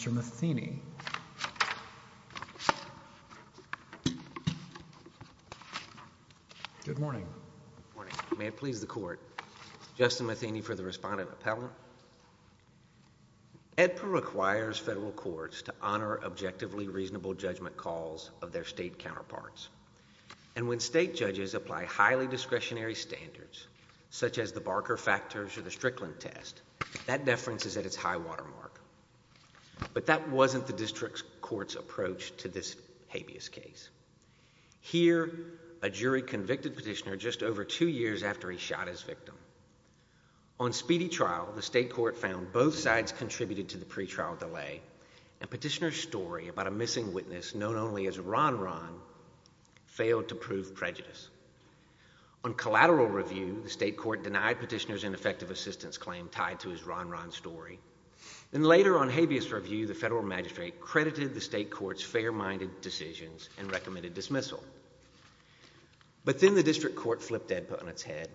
Edper requires federal courts to honor objectively reasonable judgment calls of their state counterparts. And when state judges apply highly discretionary standards, such as the Barker Factors or the But that wasn't the district court's approach to this habeas case. Here, a jury convicted Petitioner just over two years after he shot his victim. On speedy trial, the state court found both sides contributed to the pre-trial delay, and Petitioner's story about a missing witness known only as Ron Ron failed to prove prejudice. On collateral review, the state court denied Petitioner's ineffective assistance claim tied to his Ron Ron story. Later, on habeas review, the federal magistrate credited the state court's fair-minded decisions and recommended dismissal. But then the district court flipped Edper on its head.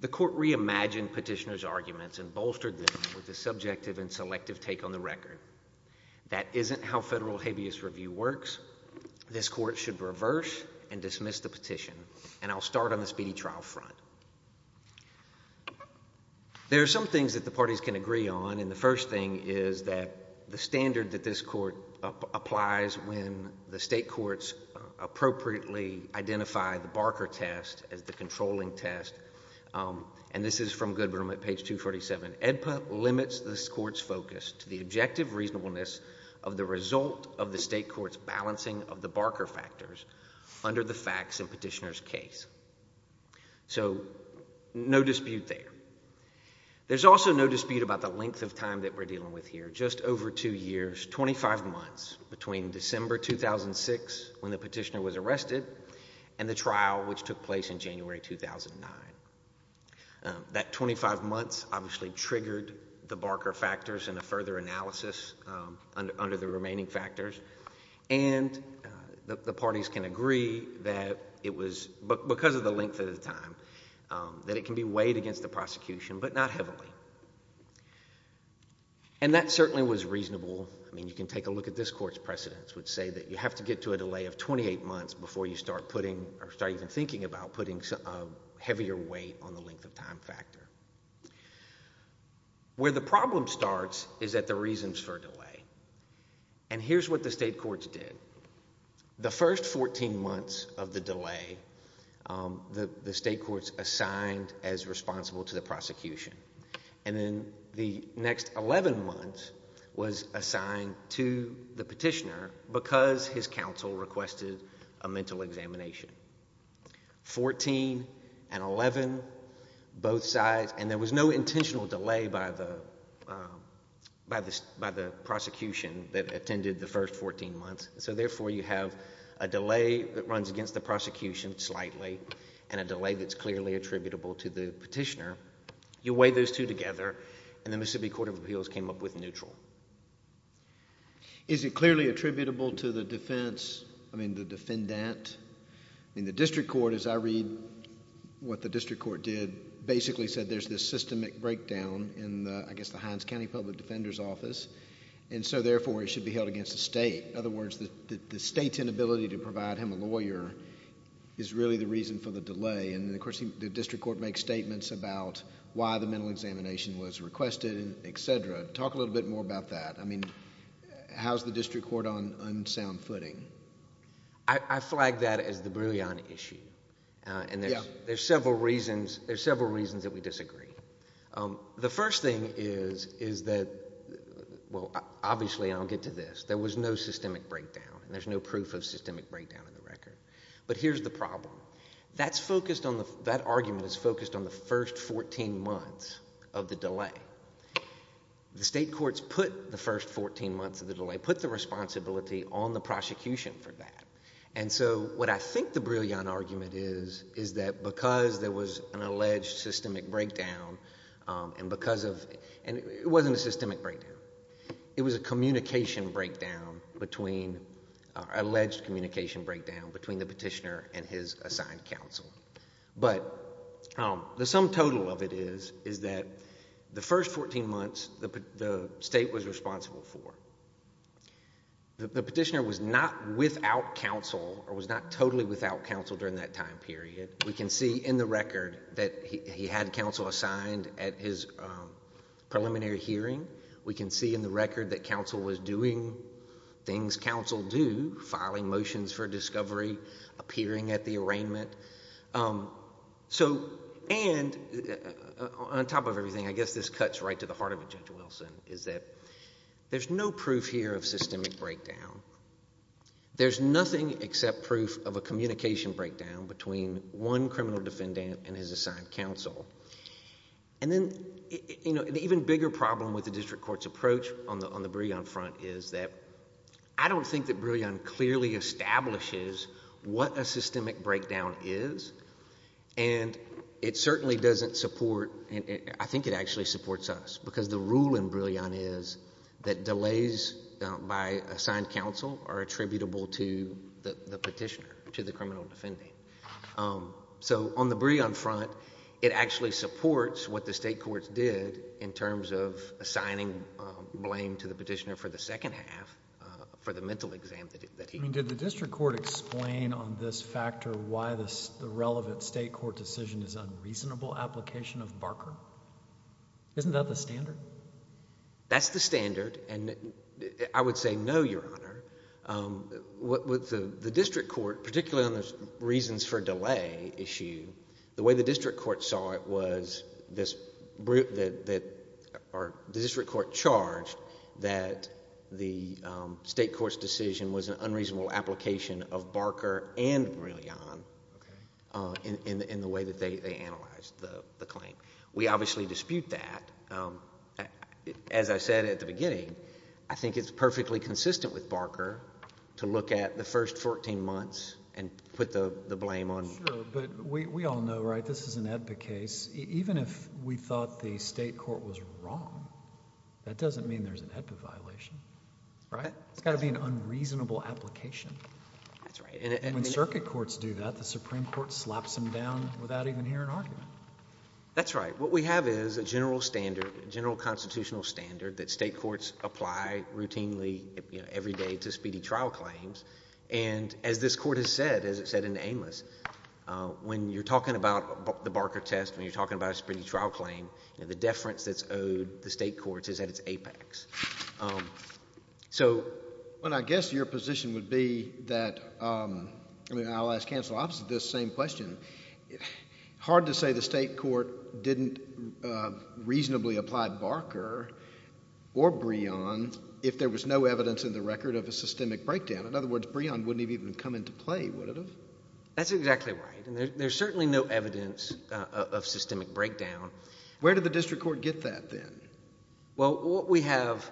The court reimagined Petitioner's arguments and bolstered them with a subjective and selective take on the record. That isn't how federal habeas review works. This court should reverse and dismiss the petition. And I'll start on the speedy trial front. There are some things that the parties can agree on, and the first thing is that the standard that this court applies when the state courts appropriately identify the Barker Test as the controlling test, and this is from Goodwin at page 247, Edper limits this court's focus to the objective reasonableness of the result of the state court's balancing of the Barker Factors under the facts in Petitioner's case. So, no dispute there. There's also no dispute about the length of time that we're dealing with here. Just over two years, 25 months between December 2006, when the petitioner was arrested, and the trial which took place in January 2009. That 25 months obviously triggered the Barker Factors and a further analysis under the remaining factors, and the parties can agree that it was, because of the length of the time, that it can be weighed against the prosecution, but not heavily. And that certainly was reasonable. I mean, you can take a look at this court's precedents, which say that you have to get to a delay of 28 months before you start putting, or start even thinking about putting heavier weight on the length of time factor. Where the problem starts is at the reasons for delay. And here's what the state courts did. The first 14 months of the delay, the state courts assigned as responsible to the prosecution. And then the next 11 months was assigned to the petitioner because his counsel requested a mental examination. 14 and 11, both sides, and there was no intentional delay by the prosecution that attended the first 14 months. So therefore you have a delay that runs against the prosecution slightly, and a delay that's clearly attributable to the petitioner. You weigh those two together, and the Mississippi Court of Appeals came up with neutral. Is it clearly attributable to the defense, I mean, the defendant? I mean, the district court, as I read what the district court did, basically said there's this systemic breakdown in the, I guess the Hines County Public Defender's Office, and so therefore it should be held against the state. In other words, the state's inability to provide him a lawyer is really the reason for the delay, and of course the district court makes statements about why the mental examination was requested, et cetera. Talk a little bit more about that. I mean, how's the district court on unsound footing? I flag that as the brilliant issue, and there's several reasons that we disagree. The first thing is that, well, obviously, and I'll get to this, there was no systemic breakdown, and there's no proof of systemic breakdown in the record. But here's the problem. That argument is focused on the first 14 months of the delay. The state courts put the first 14 months of the delay, put the responsibility on the prosecution for that, and so what I think the brilliant argument is, is that because there was an alleged systemic breakdown, and because of, and it wasn't a systemic breakdown. It was a communication breakdown between, an alleged communication breakdown between the petitioner and his assigned counsel. But the sum total of it is, is that the first 14 months, the state was responsible for. The petitioner was not without counsel, or was not totally without counsel during that time period. We can see in the record that he had counsel assigned at his preliminary hearing. We can see in the record that counsel was doing things counsel do, filing motions for discovery, appearing at the arraignment. So, and, on top of everything, I guess this cuts right to the heart of it, Judge Wilson, is that there's no proof here of systemic breakdown. There's nothing except proof of a communication breakdown between one criminal defendant and his assigned counsel. And then, you know, an even bigger problem with the district court's approach on the Brillion front is that I don't think that Brillion clearly establishes what a systemic breakdown is, and it certainly doesn't support, I think it actually supports us, because the rule in Brillion is that delays by assigned counsel are attributable to the petitioner, to the criminal defendant. So, on the Brillion front, it actually supports what the state courts did in terms of assigning blame to the petitioner for the second half, for the mental exam that he did. I mean, did the district court explain on this factor why the relevant state court decision is unreasonable application of Barker? Isn't that the standard? That's the standard, and I would say no, Your Honor. With the district court, particularly on the reasons for delay issue, the way the district court saw it was this, or the district court charged that the state court's decision was an unreasonable application of Barker and Brillion in the way that they analyzed the claim. We obviously dispute that. As I said at the beginning, I think it's perfectly consistent with Barker to look at the first 14 months and put the blame on... Sure, but we all know, right, this is an AEDPA case. Even if we thought the state court was wrong, that doesn't mean there's an AEDPA violation. Right. It's got to be an unreasonable application. That's right. And when circuit courts do that, the Supreme Court slaps them down without even hearing argument. That's right. So what we have is a general standard, a general constitutional standard that state courts apply routinely every day to speedy trial claims. And as this court has said, as it said in Amos, when you're talking about the Barker test, when you're talking about a speedy trial claim, the deference that's owed the state courts is at its apex. So... Well, I guess your position would be that... I mean, I'll ask counsel opposite this same question. Hard to say the state court didn't reasonably apply Barker or Breon if there was no evidence in the record of a systemic breakdown. In other words, Breon wouldn't have even come into play, would it have? That's exactly right. And there's certainly no evidence of systemic breakdown. Where did the district court get that then? Well, what we have,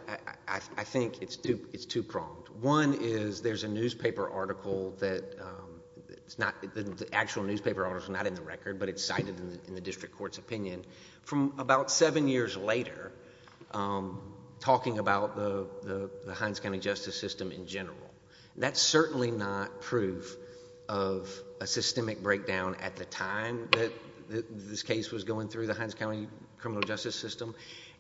I think it's two-pronged. One is there's a newspaper article that's not... the actual newspaper article is not in the record, but it's cited in the district court's opinion from about seven years later talking about the Hines County justice system in general. That's certainly not proof of a systemic breakdown at the time that this case was going through the Hines County criminal justice system.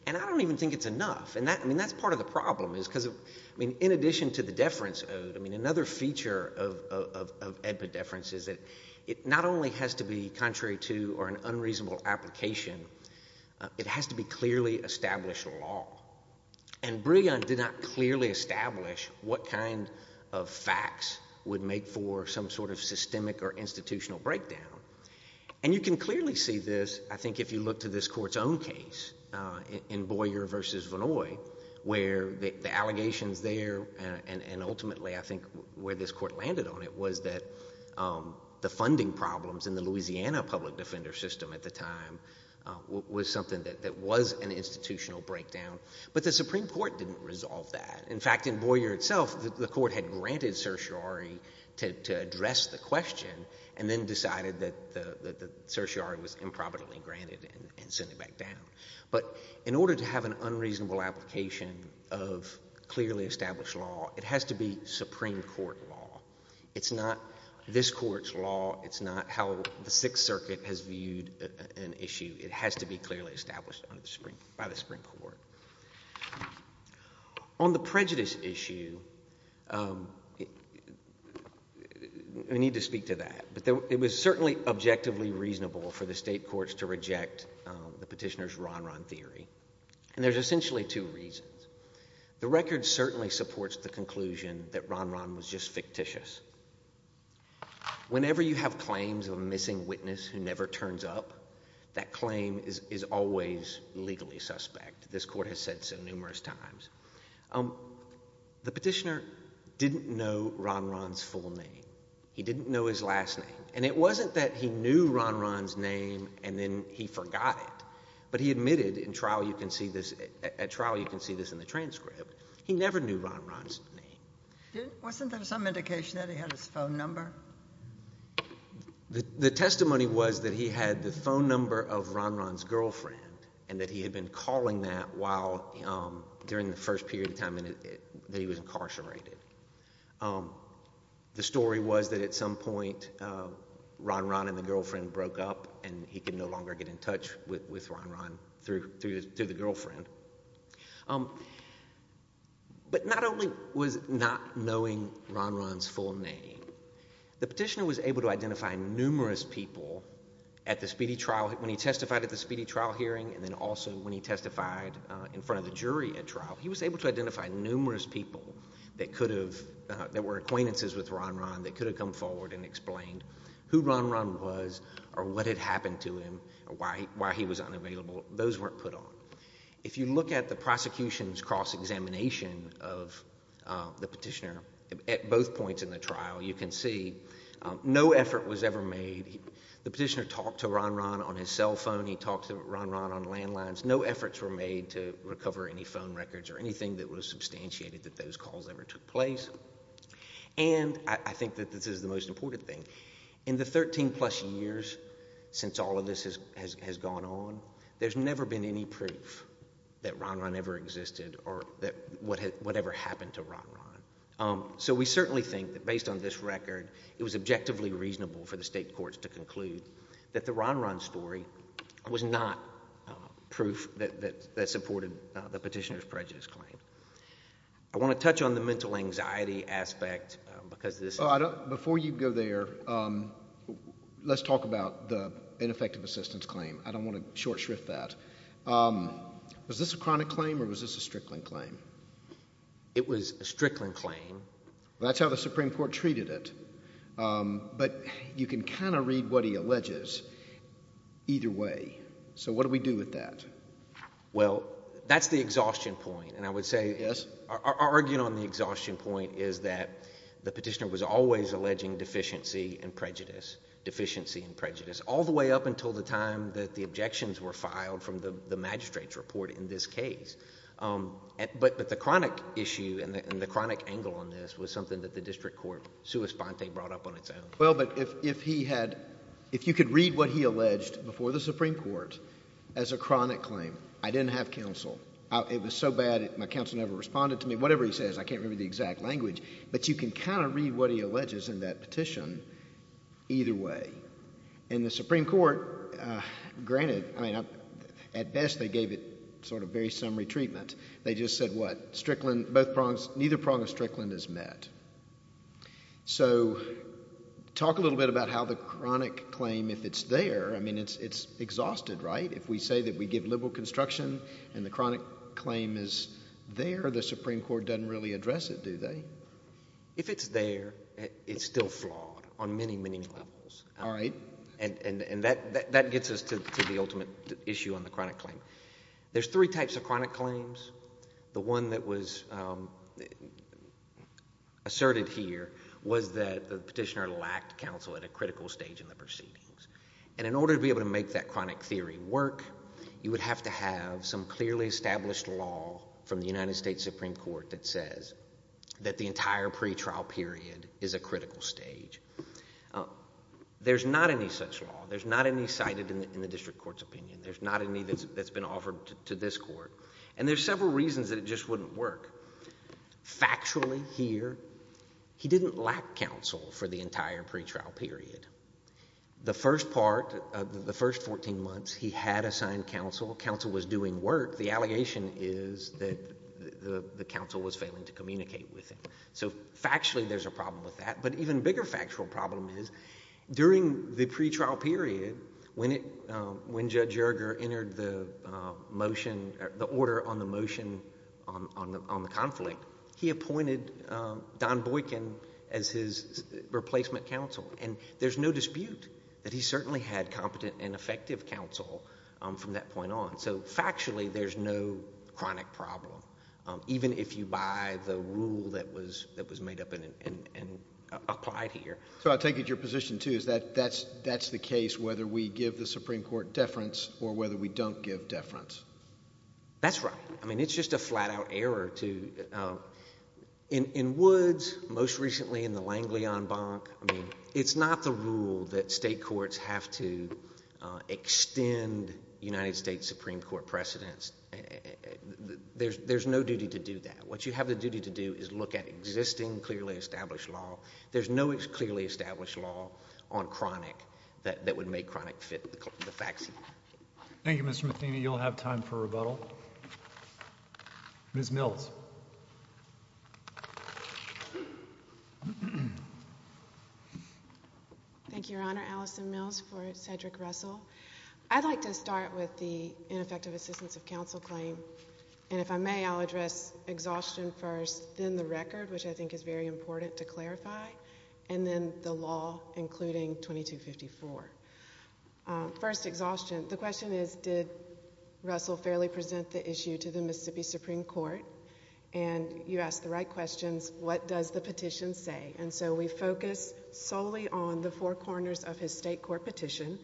And I don't even think it's enough. I mean, that's part of the problem is because of... I mean, in addition to the deference ode, I mean, another feature of epideference is that it not only has to be contrary to or an unreasonable application, it has to be clearly established law. And Breon did not clearly establish what kind of facts would make for some sort of systemic or institutional breakdown. And you can clearly see this, I think, if you look to this Court's own case in Boyer v. Vannoy where the allegations there and ultimately, I think, where this Court landed on it was that the funding problems in the Louisiana public defender system at the time was something that was an institutional breakdown. But the Supreme Court didn't resolve that. In fact, in Boyer itself, the Court had granted certiorari to address the question and then decided that the certiorari was improbably granted and sent it back down. But in order to have an unreasonable application of clearly established law, it has to be Supreme Court law. It's not this Court's law. It's not how the Sixth Circuit has viewed an issue. It has to be clearly established by the Supreme Court. On the prejudice issue, we need to speak to that. But it was certainly objectively reasonable for the state courts to reject the petitioner's Ron Ron theory, and there's essentially two reasons. The record certainly supports the conclusion that Ron Ron was just fictitious. Whenever you have claims of a missing witness who never turns up, that claim is always legally suspect. This Court has said so numerous times. The petitioner didn't know Ron Ron's full name. He didn't know his last name. And it wasn't that he knew Ron Ron's name and then he forgot it. But he admitted in trial you can see this – at trial you can see this in the transcript. He never knew Ron Ron's name. Wasn't there some indication that he had his phone number? The testimony was that he had the phone number of Ron Ron's girlfriend and that he had been calling that while – during the first period of time that he was incarcerated. The story was that at some point Ron Ron and the girlfriend broke up and he could no longer get in touch with Ron Ron through the girlfriend. But not only was not knowing Ron Ron's full name, the petitioner was able to identify numerous people at the speedy trial – when he testified at the speedy trial hearing and then also when he testified in front of the jury at trial, he was able to identify numerous people that could have – that were acquaintances with Ron Ron that could have come forward and explained who Ron Ron was or what had happened to him or why he was unavailable. Those weren't put on. If you look at the prosecution's cross-examination of the petitioner at both points in the trial, you can see no effort was ever made. The petitioner talked to Ron Ron on his cell phone. He talked to Ron Ron on landlines. No efforts were made to recover any phone records or anything that was substantiated that those calls ever took place. And I think that this is the most important thing. In the 13-plus years since all of this has gone on, there's never been any proof that Ron Ron ever existed or that – whatever happened to Ron Ron. So we certainly think that based on this record, it was objectively reasonable for the state courts to conclude that the Ron Ron story was not proof that supported the petitioner's prejudice claim. I want to touch on the mental anxiety aspect because this is – Before you go there, let's talk about the ineffective assistance claim. I don't want to short shrift that. Was this a chronic claim or was this a Strickland claim? It was a Strickland claim. That's how the Supreme Court treated it. But you can kind of read what he alleges either way. So what do we do with that? Well, that's the exhaustion point, and I would say – Yes? Our argument on the exhaustion point is that the petitioner was always alleging deficiency and prejudice, deficiency and prejudice, all the way up until the time that the objections were filed from the magistrate's report in this case. But the chronic issue and the chronic angle on this was something that the district court sui sponte brought up on its own. Well, but if he had – if you could read what he alleged before the Supreme Court as a chronic claim – I didn't have counsel. It was so bad, my counsel never responded to me. Whatever he says, I can't remember the exact language. But you can kind of read what he alleges in that petition either way. And the Supreme Court, granted – I mean, at best they gave it sort of very summary treatment. They just said what? Neither prong of Strickland is met. So talk a little bit about how the chronic claim, if it's there – I mean, it's exhausted, right? If we say that we give liberal construction and the chronic claim is there, the Supreme Court doesn't really address it, do they? If it's there, it's still flawed on many, many levels. All right. And that gets us to the ultimate issue on the chronic claim. There's three types of chronic claims. The one that was asserted here was that the petitioner lacked counsel at a critical stage in the proceedings. And in order to be able to make that chronic theory work, you would have to have some clearly established law from the United States Supreme Court that says that the entire pretrial period is a critical stage. There's not any such law. There's not any cited in the district court's opinion. There's not any that's been offered to this court. And there's several reasons that it just wouldn't work. Factually here, he didn't lack counsel for the entire pretrial period. The first part, the first 14 months, he had assigned counsel. Counsel was doing work. The allegation is that the counsel was failing to communicate with him. So factually there's a problem with that. But an even bigger factual problem is during the pretrial period, when Judge Yerger entered the order on the motion on the conflict, he appointed Don Boykin as his replacement counsel. And there's no dispute that he certainly had competent and effective counsel from that point on. So factually there's no chronic problem, even if you buy the rule that was made up and applied here. So I'll take it your position, too, is that that's the case whether we give the Supreme Court deference or whether we don't give deference. That's right. I mean, it's just a flat-out error to – in Woods, most recently in the Langley-on-Bonk, I mean, it's not the rule that state courts have to extend United States Supreme Court precedence. There's no duty to do that. What you have the duty to do is look at existing, clearly established law. There's no clearly established law on chronic that would make chronic fit the facts. Thank you, Mr. Matheny. You'll have time for rebuttal. Ms. Mills. Thank you, Your Honor. Allison Mills for Cedric Russell. I'd like to start with the ineffective assistance of counsel claim. And if I may, I'll address exhaustion first, then the record, which I think is very important to clarify, and then the law, including 2254. First, exhaustion. The question is, did Russell fairly present the issue to the Mississippi Supreme Court? And you asked the right questions. What does the petition say? And so we focus solely on the four corners of his state court petition.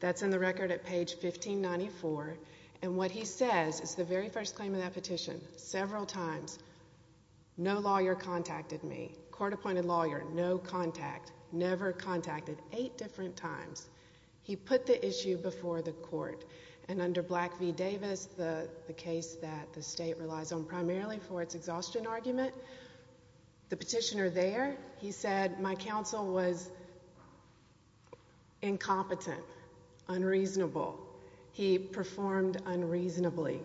That's in the record at page 1594. And what he says is the very first claim of that petition, several times, no lawyer contacted me, court-appointed lawyer, no contact, never contacted, eight different times. He put the issue before the court. And under Black v. Davis, the case that the state relies on primarily for its exhaustion argument, the petitioner there, he said, my counsel was incompetent, unreasonable. He performed unreasonably.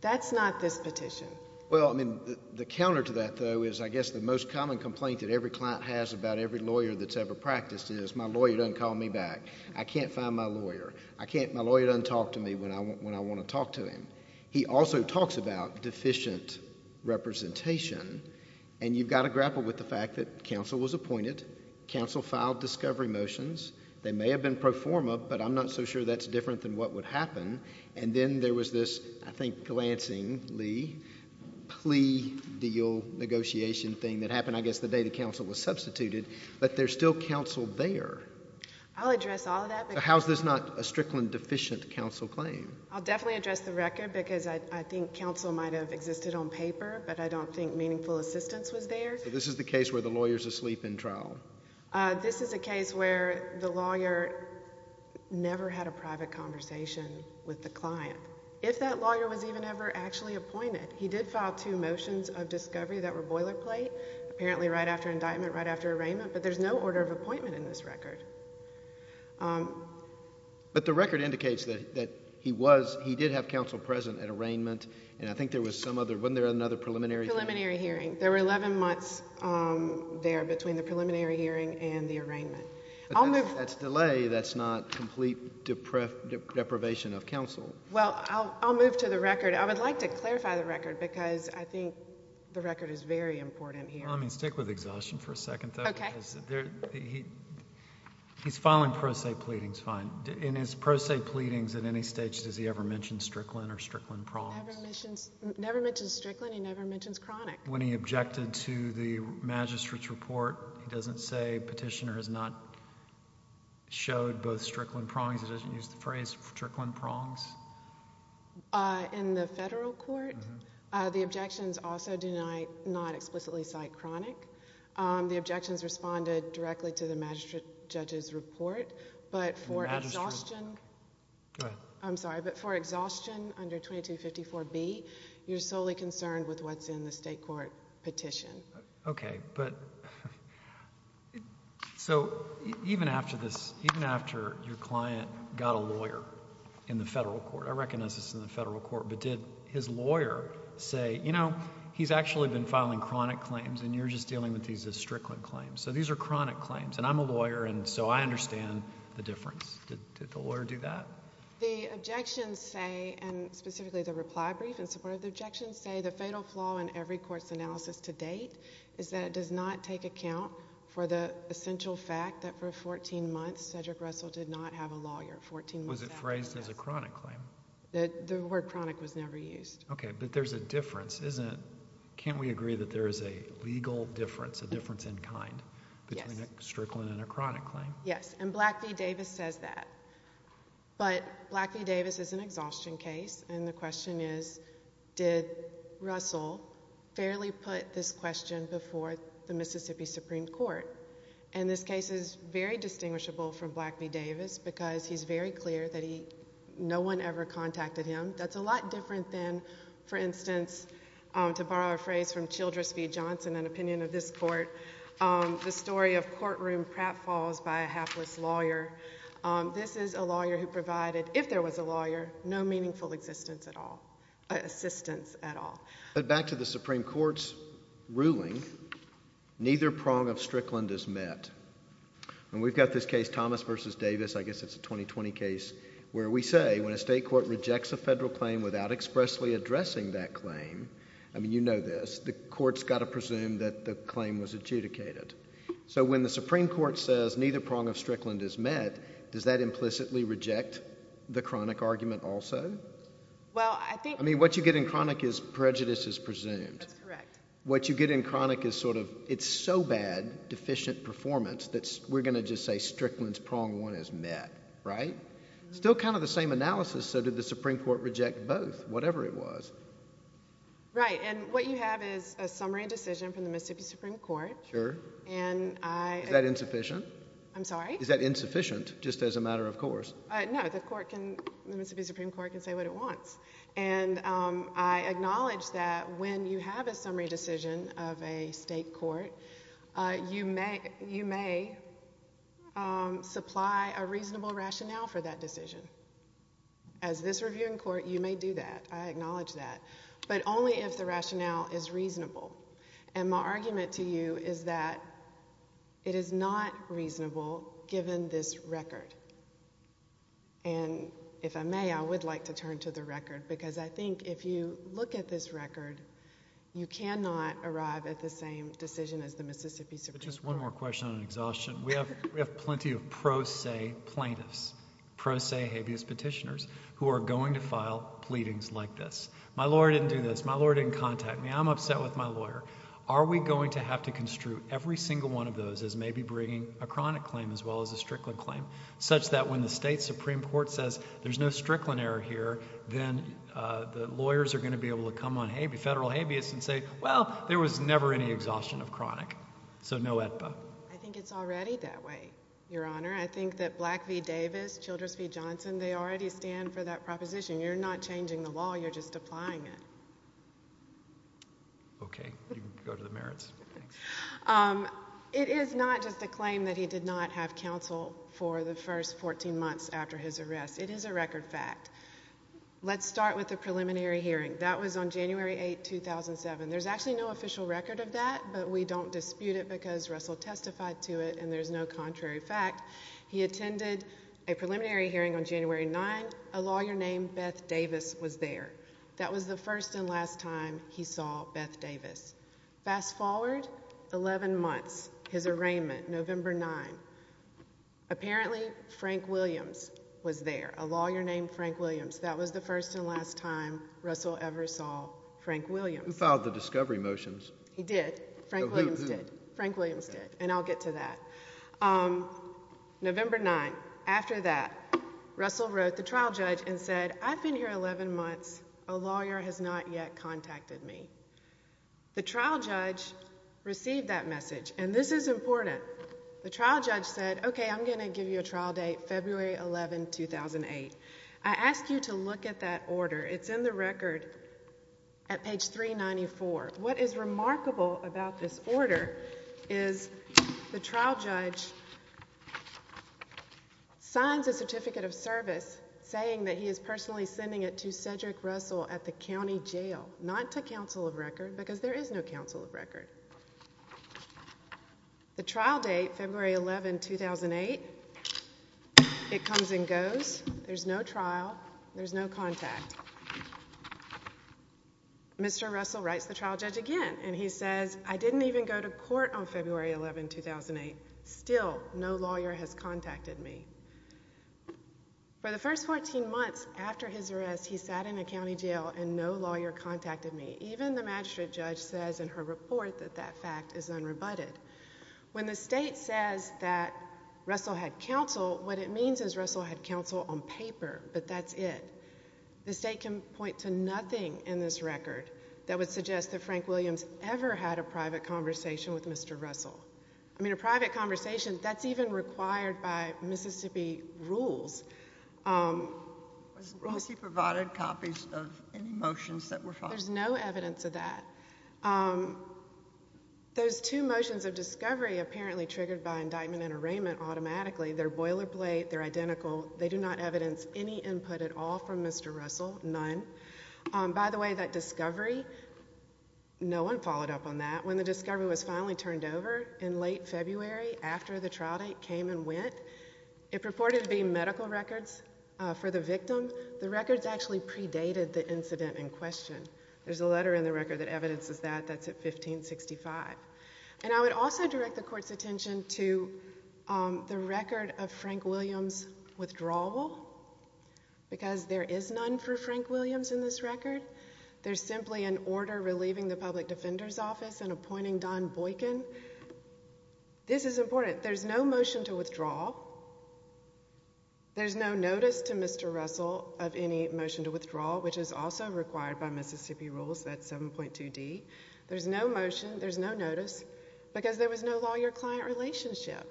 That's not this petition. Well, I mean, the counter to that, though, is I guess the most common complaint that every client has about every lawyer that's ever practiced is, my lawyer doesn't call me back. I can't find my lawyer. My lawyer doesn't talk to me when I want to talk to him. He also talks about deficient representation. And you've got to grapple with the fact that counsel was appointed. Counsel filed discovery motions. They may have been pro forma, but I'm not so sure that's different than what would happen. And then there was this, I think, glancingly plea deal negotiation thing that happened, I guess, the day the counsel was substituted. But there's still counsel there. I'll address all of that. How is this not a Strickland deficient counsel claim? I'll definitely address the record because I think counsel might have existed on paper, but I don't think meaningful assistance was there. So this is the case where the lawyer is asleep in trial? This is a case where the lawyer never had a private conversation with the client, if that lawyer was even ever actually appointed. He did file two motions of discovery that were boilerplate, apparently right after indictment, right after arraignment, but there's no order of appointment in this record. But the record indicates that he did have counsel present at arraignment, and I think there was some other, wasn't there another preliminary hearing? Preliminary hearing. There were 11 months there between the preliminary hearing and the arraignment. If that's delay, that's not complete deprivation of counsel. Well, I'll move to the record. I would like to clarify the record because I think the record is very important here. Well, I mean, stick with exhaustion for a second, though. Okay. He's filing pro se pleadings fine. In his pro se pleadings at any stage, does he ever mention Strickland or Strickland problems? Never mentions Strickland. He never mentions chronic. When he objected to the magistrate's report, he doesn't say petitioner has not showed both Strickland prongs? He doesn't use the phrase Strickland prongs? In the federal court, the objections also deny not explicitly cite chronic. The objections responded directly to the magistrate judge's report, but for exhaustion. Go ahead. I'm sorry, but for exhaustion under 2254B, you're solely concerned with what's in the state court petition. Okay, but so even after this, even after your client got a lawyer in the federal court, I recognize this is in the federal court, but did his lawyer say, you know, he's actually been filing chronic claims and you're just dealing with these as Strickland claims. So these are chronic claims, and I'm a lawyer, and so I understand the difference. Did the lawyer do that? The objections say, and specifically the reply brief in support of the objections, say the fatal flaw in every court's analysis to date is that it does not take account for the essential fact that for 14 months Cedric Russell did not have a lawyer. Was it phrased as a chronic claim? The word chronic was never used. Okay, but there's a difference, isn't it? Can't we agree that there is a legal difference, a difference in kind between a Strickland and a chronic claim? Yes, and Black v. Davis says that. But Black v. Davis is an exhaustion case, and the question is did Russell fairly put this question before the Mississippi Supreme Court? And this case is very distinguishable from Black v. Davis because he's very clear that no one ever contacted him. That's a lot different than, for instance, to borrow a phrase from Childress v. Johnson, an opinion of this court, the story of courtroom pratfalls by a hapless lawyer. This is a lawyer who provided, if there was a lawyer, no meaningful assistance at all. But back to the Supreme Court's ruling, neither prong of Strickland is met. And we've got this case, Thomas v. Davis, I guess it's a 2020 case, where we say when a state court rejects a federal claim without expressly addressing that claim, I mean you know this, the court's got to presume that the claim was adjudicated. So when the Supreme Court says neither prong of Strickland is met, does that implicitly reject the chronic argument also? Well, I think— I mean what you get in chronic is prejudice is presumed. That's correct. What you get in chronic is sort of it's so bad, deficient performance, that we're going to just say Strickland's prong one is met, right? Still kind of the same analysis, so did the Supreme Court reject both, whatever it was. Right, and what you have is a summary decision from the Mississippi Supreme Court. Sure. And I— Is that insufficient? I'm sorry? Is that insufficient just as a matter of course? No, the court can—the Mississippi Supreme Court can say what it wants. And I acknowledge that when you have a summary decision of a state court, you may supply a reasonable rationale for that decision. As this review in court, you may do that. I acknowledge that. But only if the rationale is reasonable. And my argument to you is that it is not reasonable given this record. And if I may, I would like to turn to the record, because I think if you look at this record, you cannot arrive at the same decision as the Mississippi Supreme Court. Just one more question on exhaustion. We have plenty of pro se plaintiffs, pro se habeas petitioners, who are going to file pleadings like this. My lawyer didn't do this. My lawyer didn't contact me. I'm upset with my lawyer. Are we going to have to construe every single one of those as maybe bringing a chronic claim as well as a Strickland claim, such that when the state Supreme Court says there's no Strickland error here, then the lawyers are going to be able to come on federal habeas and say, well, there was never any exhaustion of chronic, so no AEDPA. I think it's already that way, Your Honor. I think that Black v. Davis, Childress v. Johnson, they already stand for that proposition. You're not changing the law. You're just applying it. Okay. You can go to the merits. It is not just a claim that he did not have counsel for the first 14 months after his arrest. It is a record fact. Let's start with the preliminary hearing. That was on January 8, 2007. There's actually no official record of that, but we don't dispute it because Russell testified to it, and there's no contrary fact. He attended a preliminary hearing on January 9. A lawyer named Beth Davis was there. That was the first and last time he saw Beth Davis. Fast forward 11 months, his arraignment, November 9. Apparently Frank Williams was there, a lawyer named Frank Williams. That was the first and last time Russell ever saw Frank Williams. Who filed the discovery motions? He did. Who? Frank Williams did, and I'll get to that. November 9, after that, Russell wrote the trial judge and said, I've been here 11 months. A lawyer has not yet contacted me. The trial judge received that message, and this is important. The trial judge said, okay, I'm going to give you a trial date, February 11, 2008. I ask you to look at that order. It's in the record at page 394. What is remarkable about this order is the trial judge signs a certificate of service saying that he is personally sending it to Cedric Russell at the county jail, not to counsel of record because there is no counsel of record. The trial date, February 11, 2008, it comes and goes. There's no trial. There's no contact. Mr. Russell writes the trial judge again, and he says, I didn't even go to court on February 11, 2008. Still, no lawyer has contacted me. For the first 14 months after his arrest, he sat in a county jail, and no lawyer contacted me. Even the magistrate judge says in her report that that fact is unrebutted. When the state says that Russell had counsel, what it means is Russell had counsel on paper, but that's it. The state can point to nothing in this record that would suggest that Frank Williams ever had a private conversation with Mr. Russell. I mean, a private conversation, that's even required by Mississippi rules. Has he provided copies of any motions that were filed? There's no evidence of that. Those two motions of discovery apparently triggered by indictment and arraignment automatically. They're boilerplate. They're identical. They do not evidence any input at all from Mr. Russell, none. By the way, that discovery, no one followed up on that. When the discovery was finally turned over in late February after the trial date came and went, it purported to be medical records for the victim. The records actually predated the incident in question. There's a letter in the record that evidences that. That's at 1565. And I would also direct the Court's attention to the record of Frank Williams' withdrawal, because there is none for Frank Williams in this record. There's simply an order relieving the public defender's office and appointing Don Boykin. This is important. There's no motion to withdraw. There's no notice to Mr. Russell of any motion to withdraw, which is also required by Mississippi rules. That's 7.2d. There's no motion, there's no notice, because there was no lawyer-client relationship.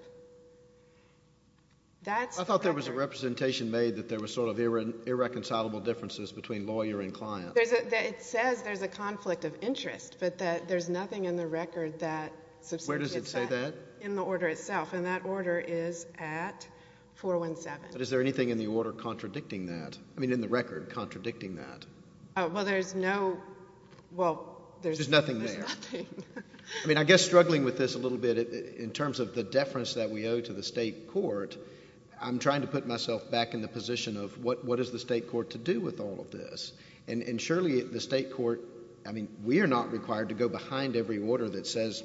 I thought there was a representation made that there was sort of irreconcilable differences between lawyer and client. It says there's a conflict of interest, but there's nothing in the record that substitutes that. Where does it say that? In the order itself, and that order is at 417. But is there anything in the order contradicting that, I mean in the record contradicting that? Well, there's no, well, there's nothing there. I mean, I guess struggling with this a little bit in terms of the deference that we owe to the state court, I'm trying to put myself back in the position of what is the state court to do with all of this? And surely the state court, I mean, we are not required to go behind every order that says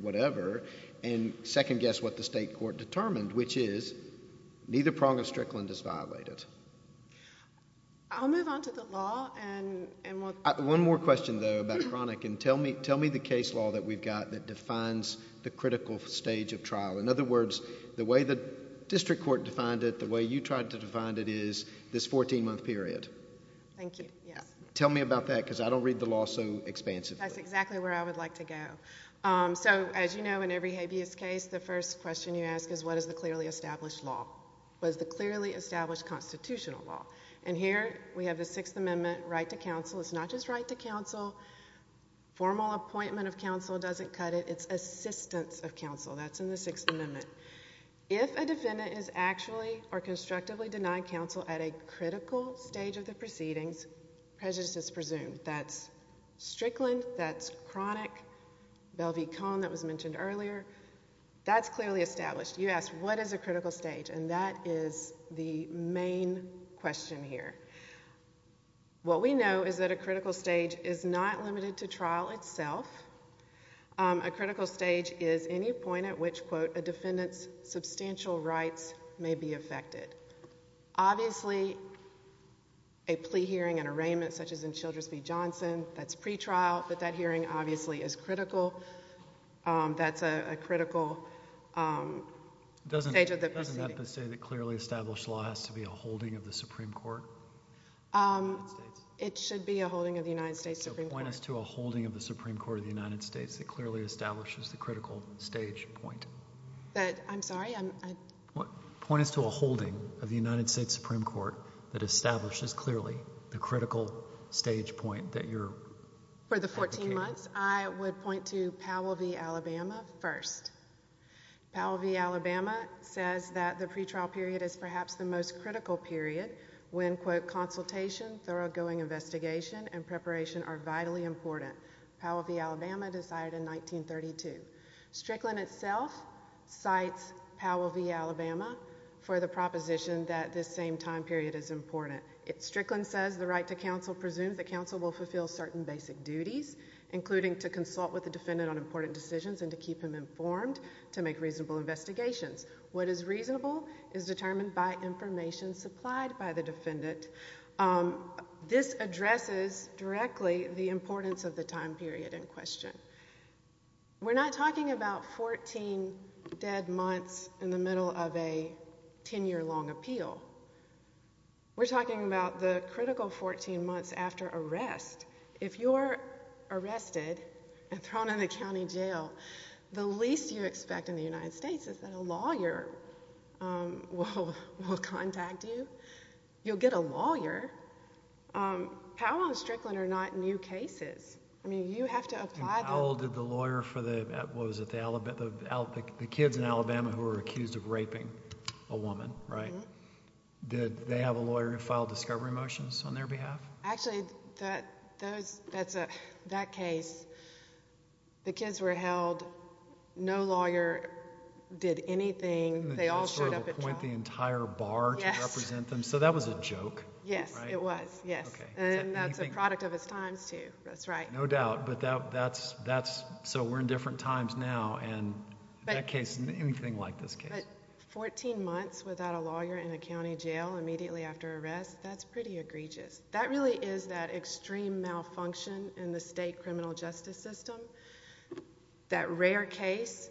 whatever, and second-guess what the state court determined, which is neither Prong or Strickland is violated. I'll move on to the law. One more question, though, about chronic, and tell me the case law that we've got that defines the critical stage of trial. In other words, the way the district court defined it, the way you tried to define it is this 14-month period. Thank you, yes. Tell me about that, because I don't read the law so expansively. That's exactly where I would like to go. So, as you know, in every habeas case, the first question you ask is what is the clearly established law? What is the clearly established constitutional law? And here we have the Sixth Amendment right to counsel. It's not just right to counsel. Formal appointment of counsel doesn't cut it. It's assistance of counsel. That's in the Sixth Amendment. If a defendant is actually or constructively denied counsel at a critical stage of the proceedings, prejudice is presumed. That's Strickland. That's chronic. Belle v. Cohn, that was mentioned earlier. That's clearly established. You asked what is a critical stage, and that is the main question here. What we know is that a critical stage is not limited to trial itself. A critical stage is any point at which, quote, a defendant's substantial rights may be affected. Obviously, a plea hearing, an arraignment such as in Childers v. Johnson, that's pretrial, but that hearing obviously is critical. That's a critical stage of the proceedings. Doesn't that say that clearly established law has to be a holding of the Supreme Court? It should be a holding of the United States Supreme Court. Point us to a holding of the Supreme Court of the United States that clearly establishes the critical stage point. I'm sorry? Point us to a holding of the United States Supreme Court that establishes clearly the critical stage point that you're advocating. For the 14 months, I would point to Powell v. Alabama first. Powell v. Alabama says that the pretrial period is perhaps the most critical period when, quote, consultation, thoroughgoing investigation, and preparation are vitally important. Powell v. Alabama decided in 1932. Strickland itself cites Powell v. Alabama for the proposition that this same time period is important. Strickland says the right to counsel presumes that counsel will fulfill certain basic duties, including to consult with the defendant on important decisions and to keep him informed to make reasonable investigations. What is reasonable is determined by information supplied by the defendant. This addresses directly the importance of the time period in question. We're not talking about 14 dead months in the middle of a 10-year-long appeal. We're talking about the critical 14 months after arrest. If you're arrested and thrown in a county jail, the least you expect in the United States is that a lawyer will contact you. You'll get a lawyer. Powell and Strickland are not new cases. I mean, you have to apply them. Powell did the lawyer for the kids in Alabama who were accused of raping a woman, right? Did they have a lawyer who filed discovery motions on their behalf? Actually, that case, the kids were held. No lawyer did anything. They all showed up at trial. Appoint the entire bar to represent them. So that was a joke, right? Yes, it was, yes. And that's a product of his times, too. That's right. No doubt, but that's, so we're in different times now, and that case, anything like this case. But 14 months without a lawyer in a county jail immediately after arrest, that's pretty egregious. That really is that extreme malfunction in the state criminal justice system, that rare case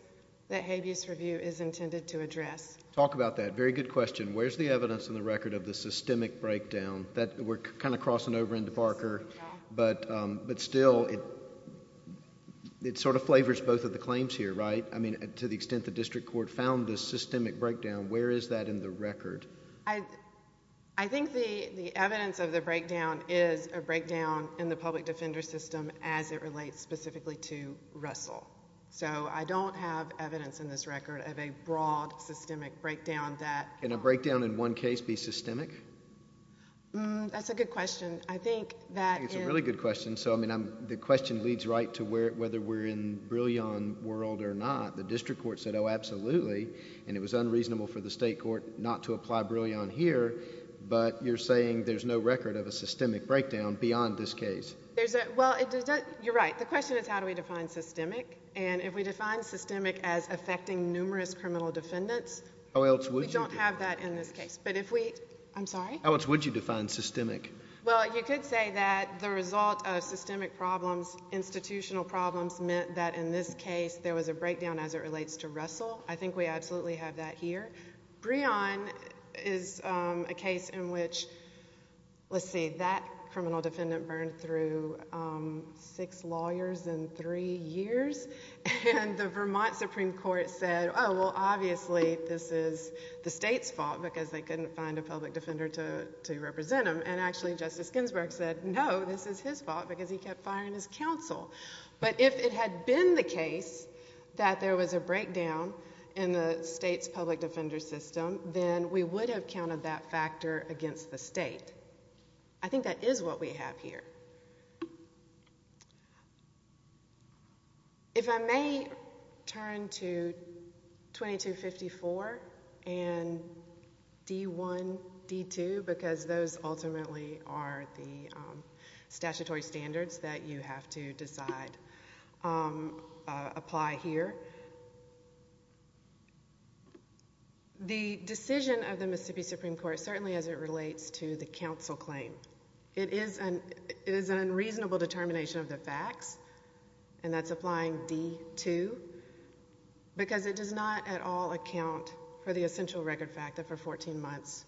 that habeas review is intended to address. Talk about that. Very good question. Where's the evidence in the record of the systemic breakdown? We're kind of crossing over into Barker, but still, it sort of flavors both of the claims here, right? I mean, to the extent the district court found the systemic breakdown, where is that in the record? I think the evidence of the breakdown is a breakdown in the public defender system as it relates specifically to Russell. So I don't have evidence in this record of a broad systemic breakdown that... Can a breakdown in one case be systemic? That's a good question. I think that in... I think it's a really good question. So, I mean, the question leads right to whether we're in Brillian world or not. The district court said, oh, absolutely, and it was unreasonable for the state court not to apply Brillian here, but you're saying there's no record of a systemic breakdown beyond this case. Well, you're right. The question is how do we define systemic, and if we define systemic as affecting numerous criminal defendants... We don't have that in this case, but if we... I'm sorry? How much would you define systemic? Well, you could say that the result of systemic problems, institutional problems, meant that in this case, there was a breakdown as it relates to Russell. I think we absolutely have that here. Brillian is a case in which, let's see, that criminal defendant burned through six lawyers in three years, and the Vermont Supreme Court said, oh, well, obviously, this is the state's fault, because they couldn't find a public defender to represent him. And, actually, Justice Ginsburg said, no, this is his fault, because he kept firing his counsel. But, if it had been the case that there was a breakdown in the state's public defender system, then we would have counted that factor against the state. I think that is what we have here. If I may turn to 2254 and D1, D2, because those ultimately are the statutory standards that you have to decide, apply here. The decision of the Mississippi Supreme Court, certainly as it relates to the counsel claim, it is an unreasonable determination of the facts, and that's applying D2, because it does not at all account for the essential record fact that for 14 months,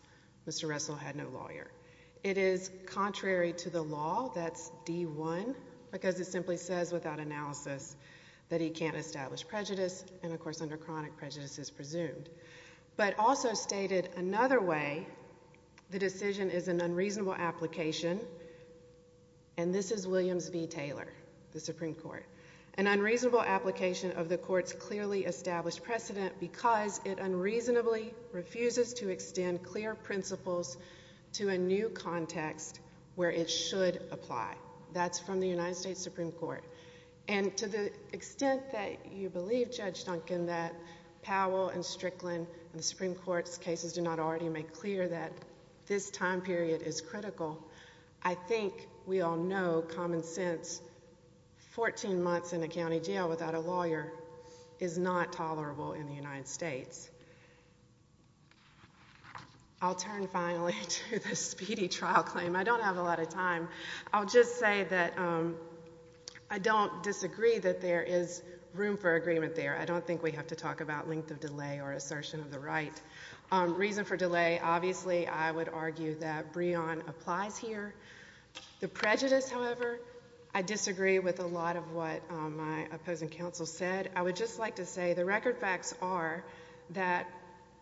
Mr. Russell had no lawyer. It is contrary to the law, that's D1, because it simply says without analysis that he can't establish prejudice, and, of course, under chronic prejudice is presumed. But, also stated another way, the decision is an unreasonable application, and this is Williams v. Taylor, the Supreme Court. An unreasonable application of the Court's clearly established precedent, because it unreasonably refuses to extend clear principles to a new context where it should apply. That's from the United States Supreme Court. And to the extent that you believe, Judge Duncan, that Powell and Strickland and the Supreme Court's cases do not already make clear that this time period is critical, I think we all know common sense. Fourteen months in a county jail without a lawyer is not tolerable in the United States. I'll turn, finally, to the speedy trial claim. I don't have a lot of time. I'll just say that I don't disagree that there is room for agreement there. I don't think we have to talk about length of delay or assertion of the right. Reason for delay, obviously, I would argue that Breon applies here. The prejudice, however, I disagree with a lot of what my opposing counsel said. I would just like to say the record facts are that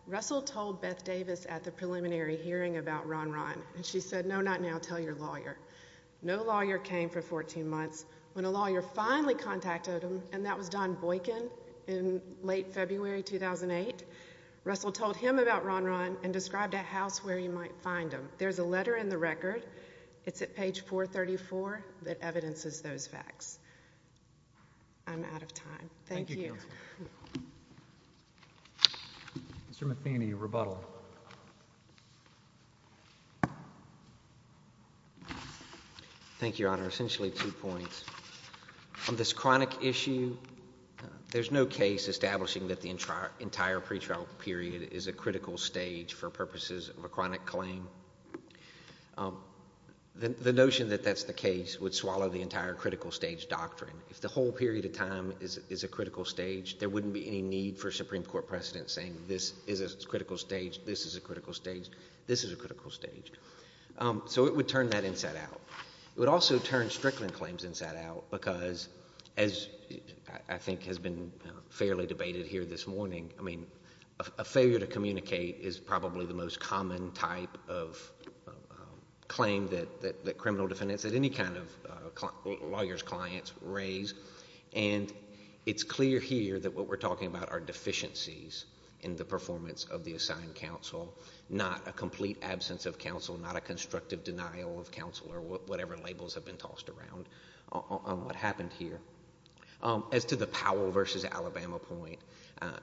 Russell told Beth Davis at the preliminary hearing about Ron Ron, and she said, no, not now, tell your lawyer. No lawyer came for 14 months. When a lawyer finally contacted him, and that was Don Boykin in late February 2008, Russell told him about Ron Ron and described a house where you might find him. There's a letter in the record. It's at page 434 that evidences those facts. I'm out of time. Thank you. Mr. Matheny, rebuttal. Thank you, Your Honor. Essentially two points. On this chronic issue, there's no case establishing that the entire pretrial period is a critical stage for purposes of a chronic claim. The notion that that's the case would swallow the entire critical stage doctrine. If the whole period of time is a critical stage, there wouldn't be any need for a Supreme Court precedent saying this is a critical stage, this is a critical stage, this is a critical stage. So it would turn that inside out. It would also turn Strickland claims inside out because, as I think has been fairly debated here this morning, I mean, a failure to communicate is probably the most common type of claim that criminal defendants and any kind of lawyers, clients raise. And it's clear here that what we're talking about are deficiencies in the performance of the assigned counsel, not a complete absence of counsel, not a constructive denial of counsel or whatever labels have been tossed around on what happened here. As to the Powell v. Alabama point,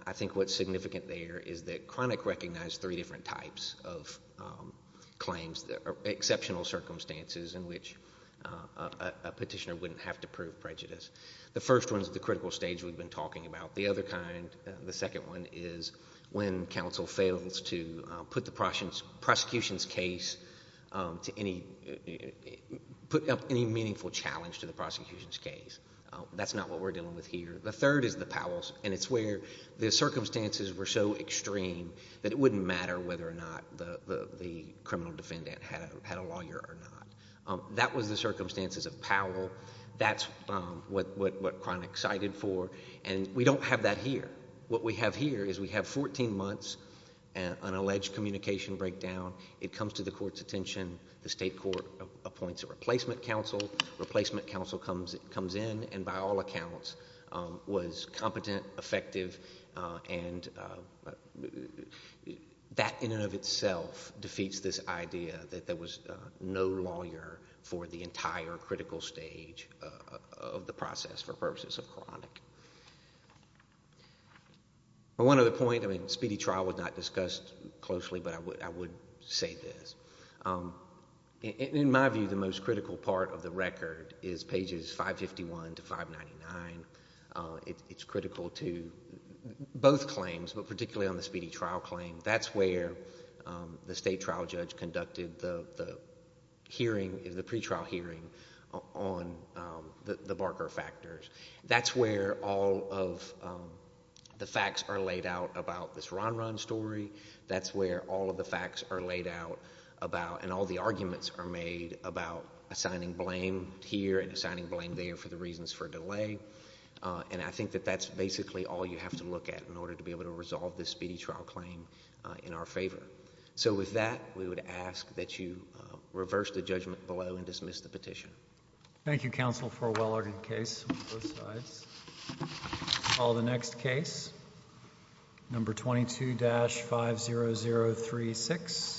I think what's significant there is that Chronic recognized three different types of claims, exceptional circumstances in which a petitioner wouldn't have to prove prejudice. The first one is the critical stage we've been talking about. The other kind, the second one, is when counsel fails to put the prosecution's case to any meaningful challenge to the prosecution's case. That's not what we're dealing with here. The third is the Powell's, and it's where the circumstances were so extreme that it wouldn't matter whether or not the criminal defendant had a lawyer or not. That was the circumstances of Powell. That's what Chronic cited for. And we don't have that here. What we have here is we have 14 months, an alleged communication breakdown. It comes to the court's attention. The state court appoints a replacement counsel. Replacement counsel comes in and, by all accounts, was competent, effective. And that, in and of itself, defeats this idea that there was no lawyer for the entire critical stage of the process for purposes of Chronic. One other point, Speedy Trial was not discussed closely, but I would say this. In my view, the most critical part of the record is pages 551 to 599. It's critical to both claims, but particularly on the Speedy Trial claim. That's where the state trial judge conducted the hearing, the pretrial hearing, on the Barker factors. That's where all of the facts are laid out about this Ron Ron story. That's where all of the facts are laid out about and all the arguments are made about assigning blame here and assigning blame there for the reasons for delay. And I think that that's basically all you have to look at in order to be able to resolve this Speedy Trial claim in our favor. So, with that, we would ask that you reverse the judgment below and dismiss the petition. Thank you, counsel, for a well-argued case on both sides. Call the next case, number 22-50036.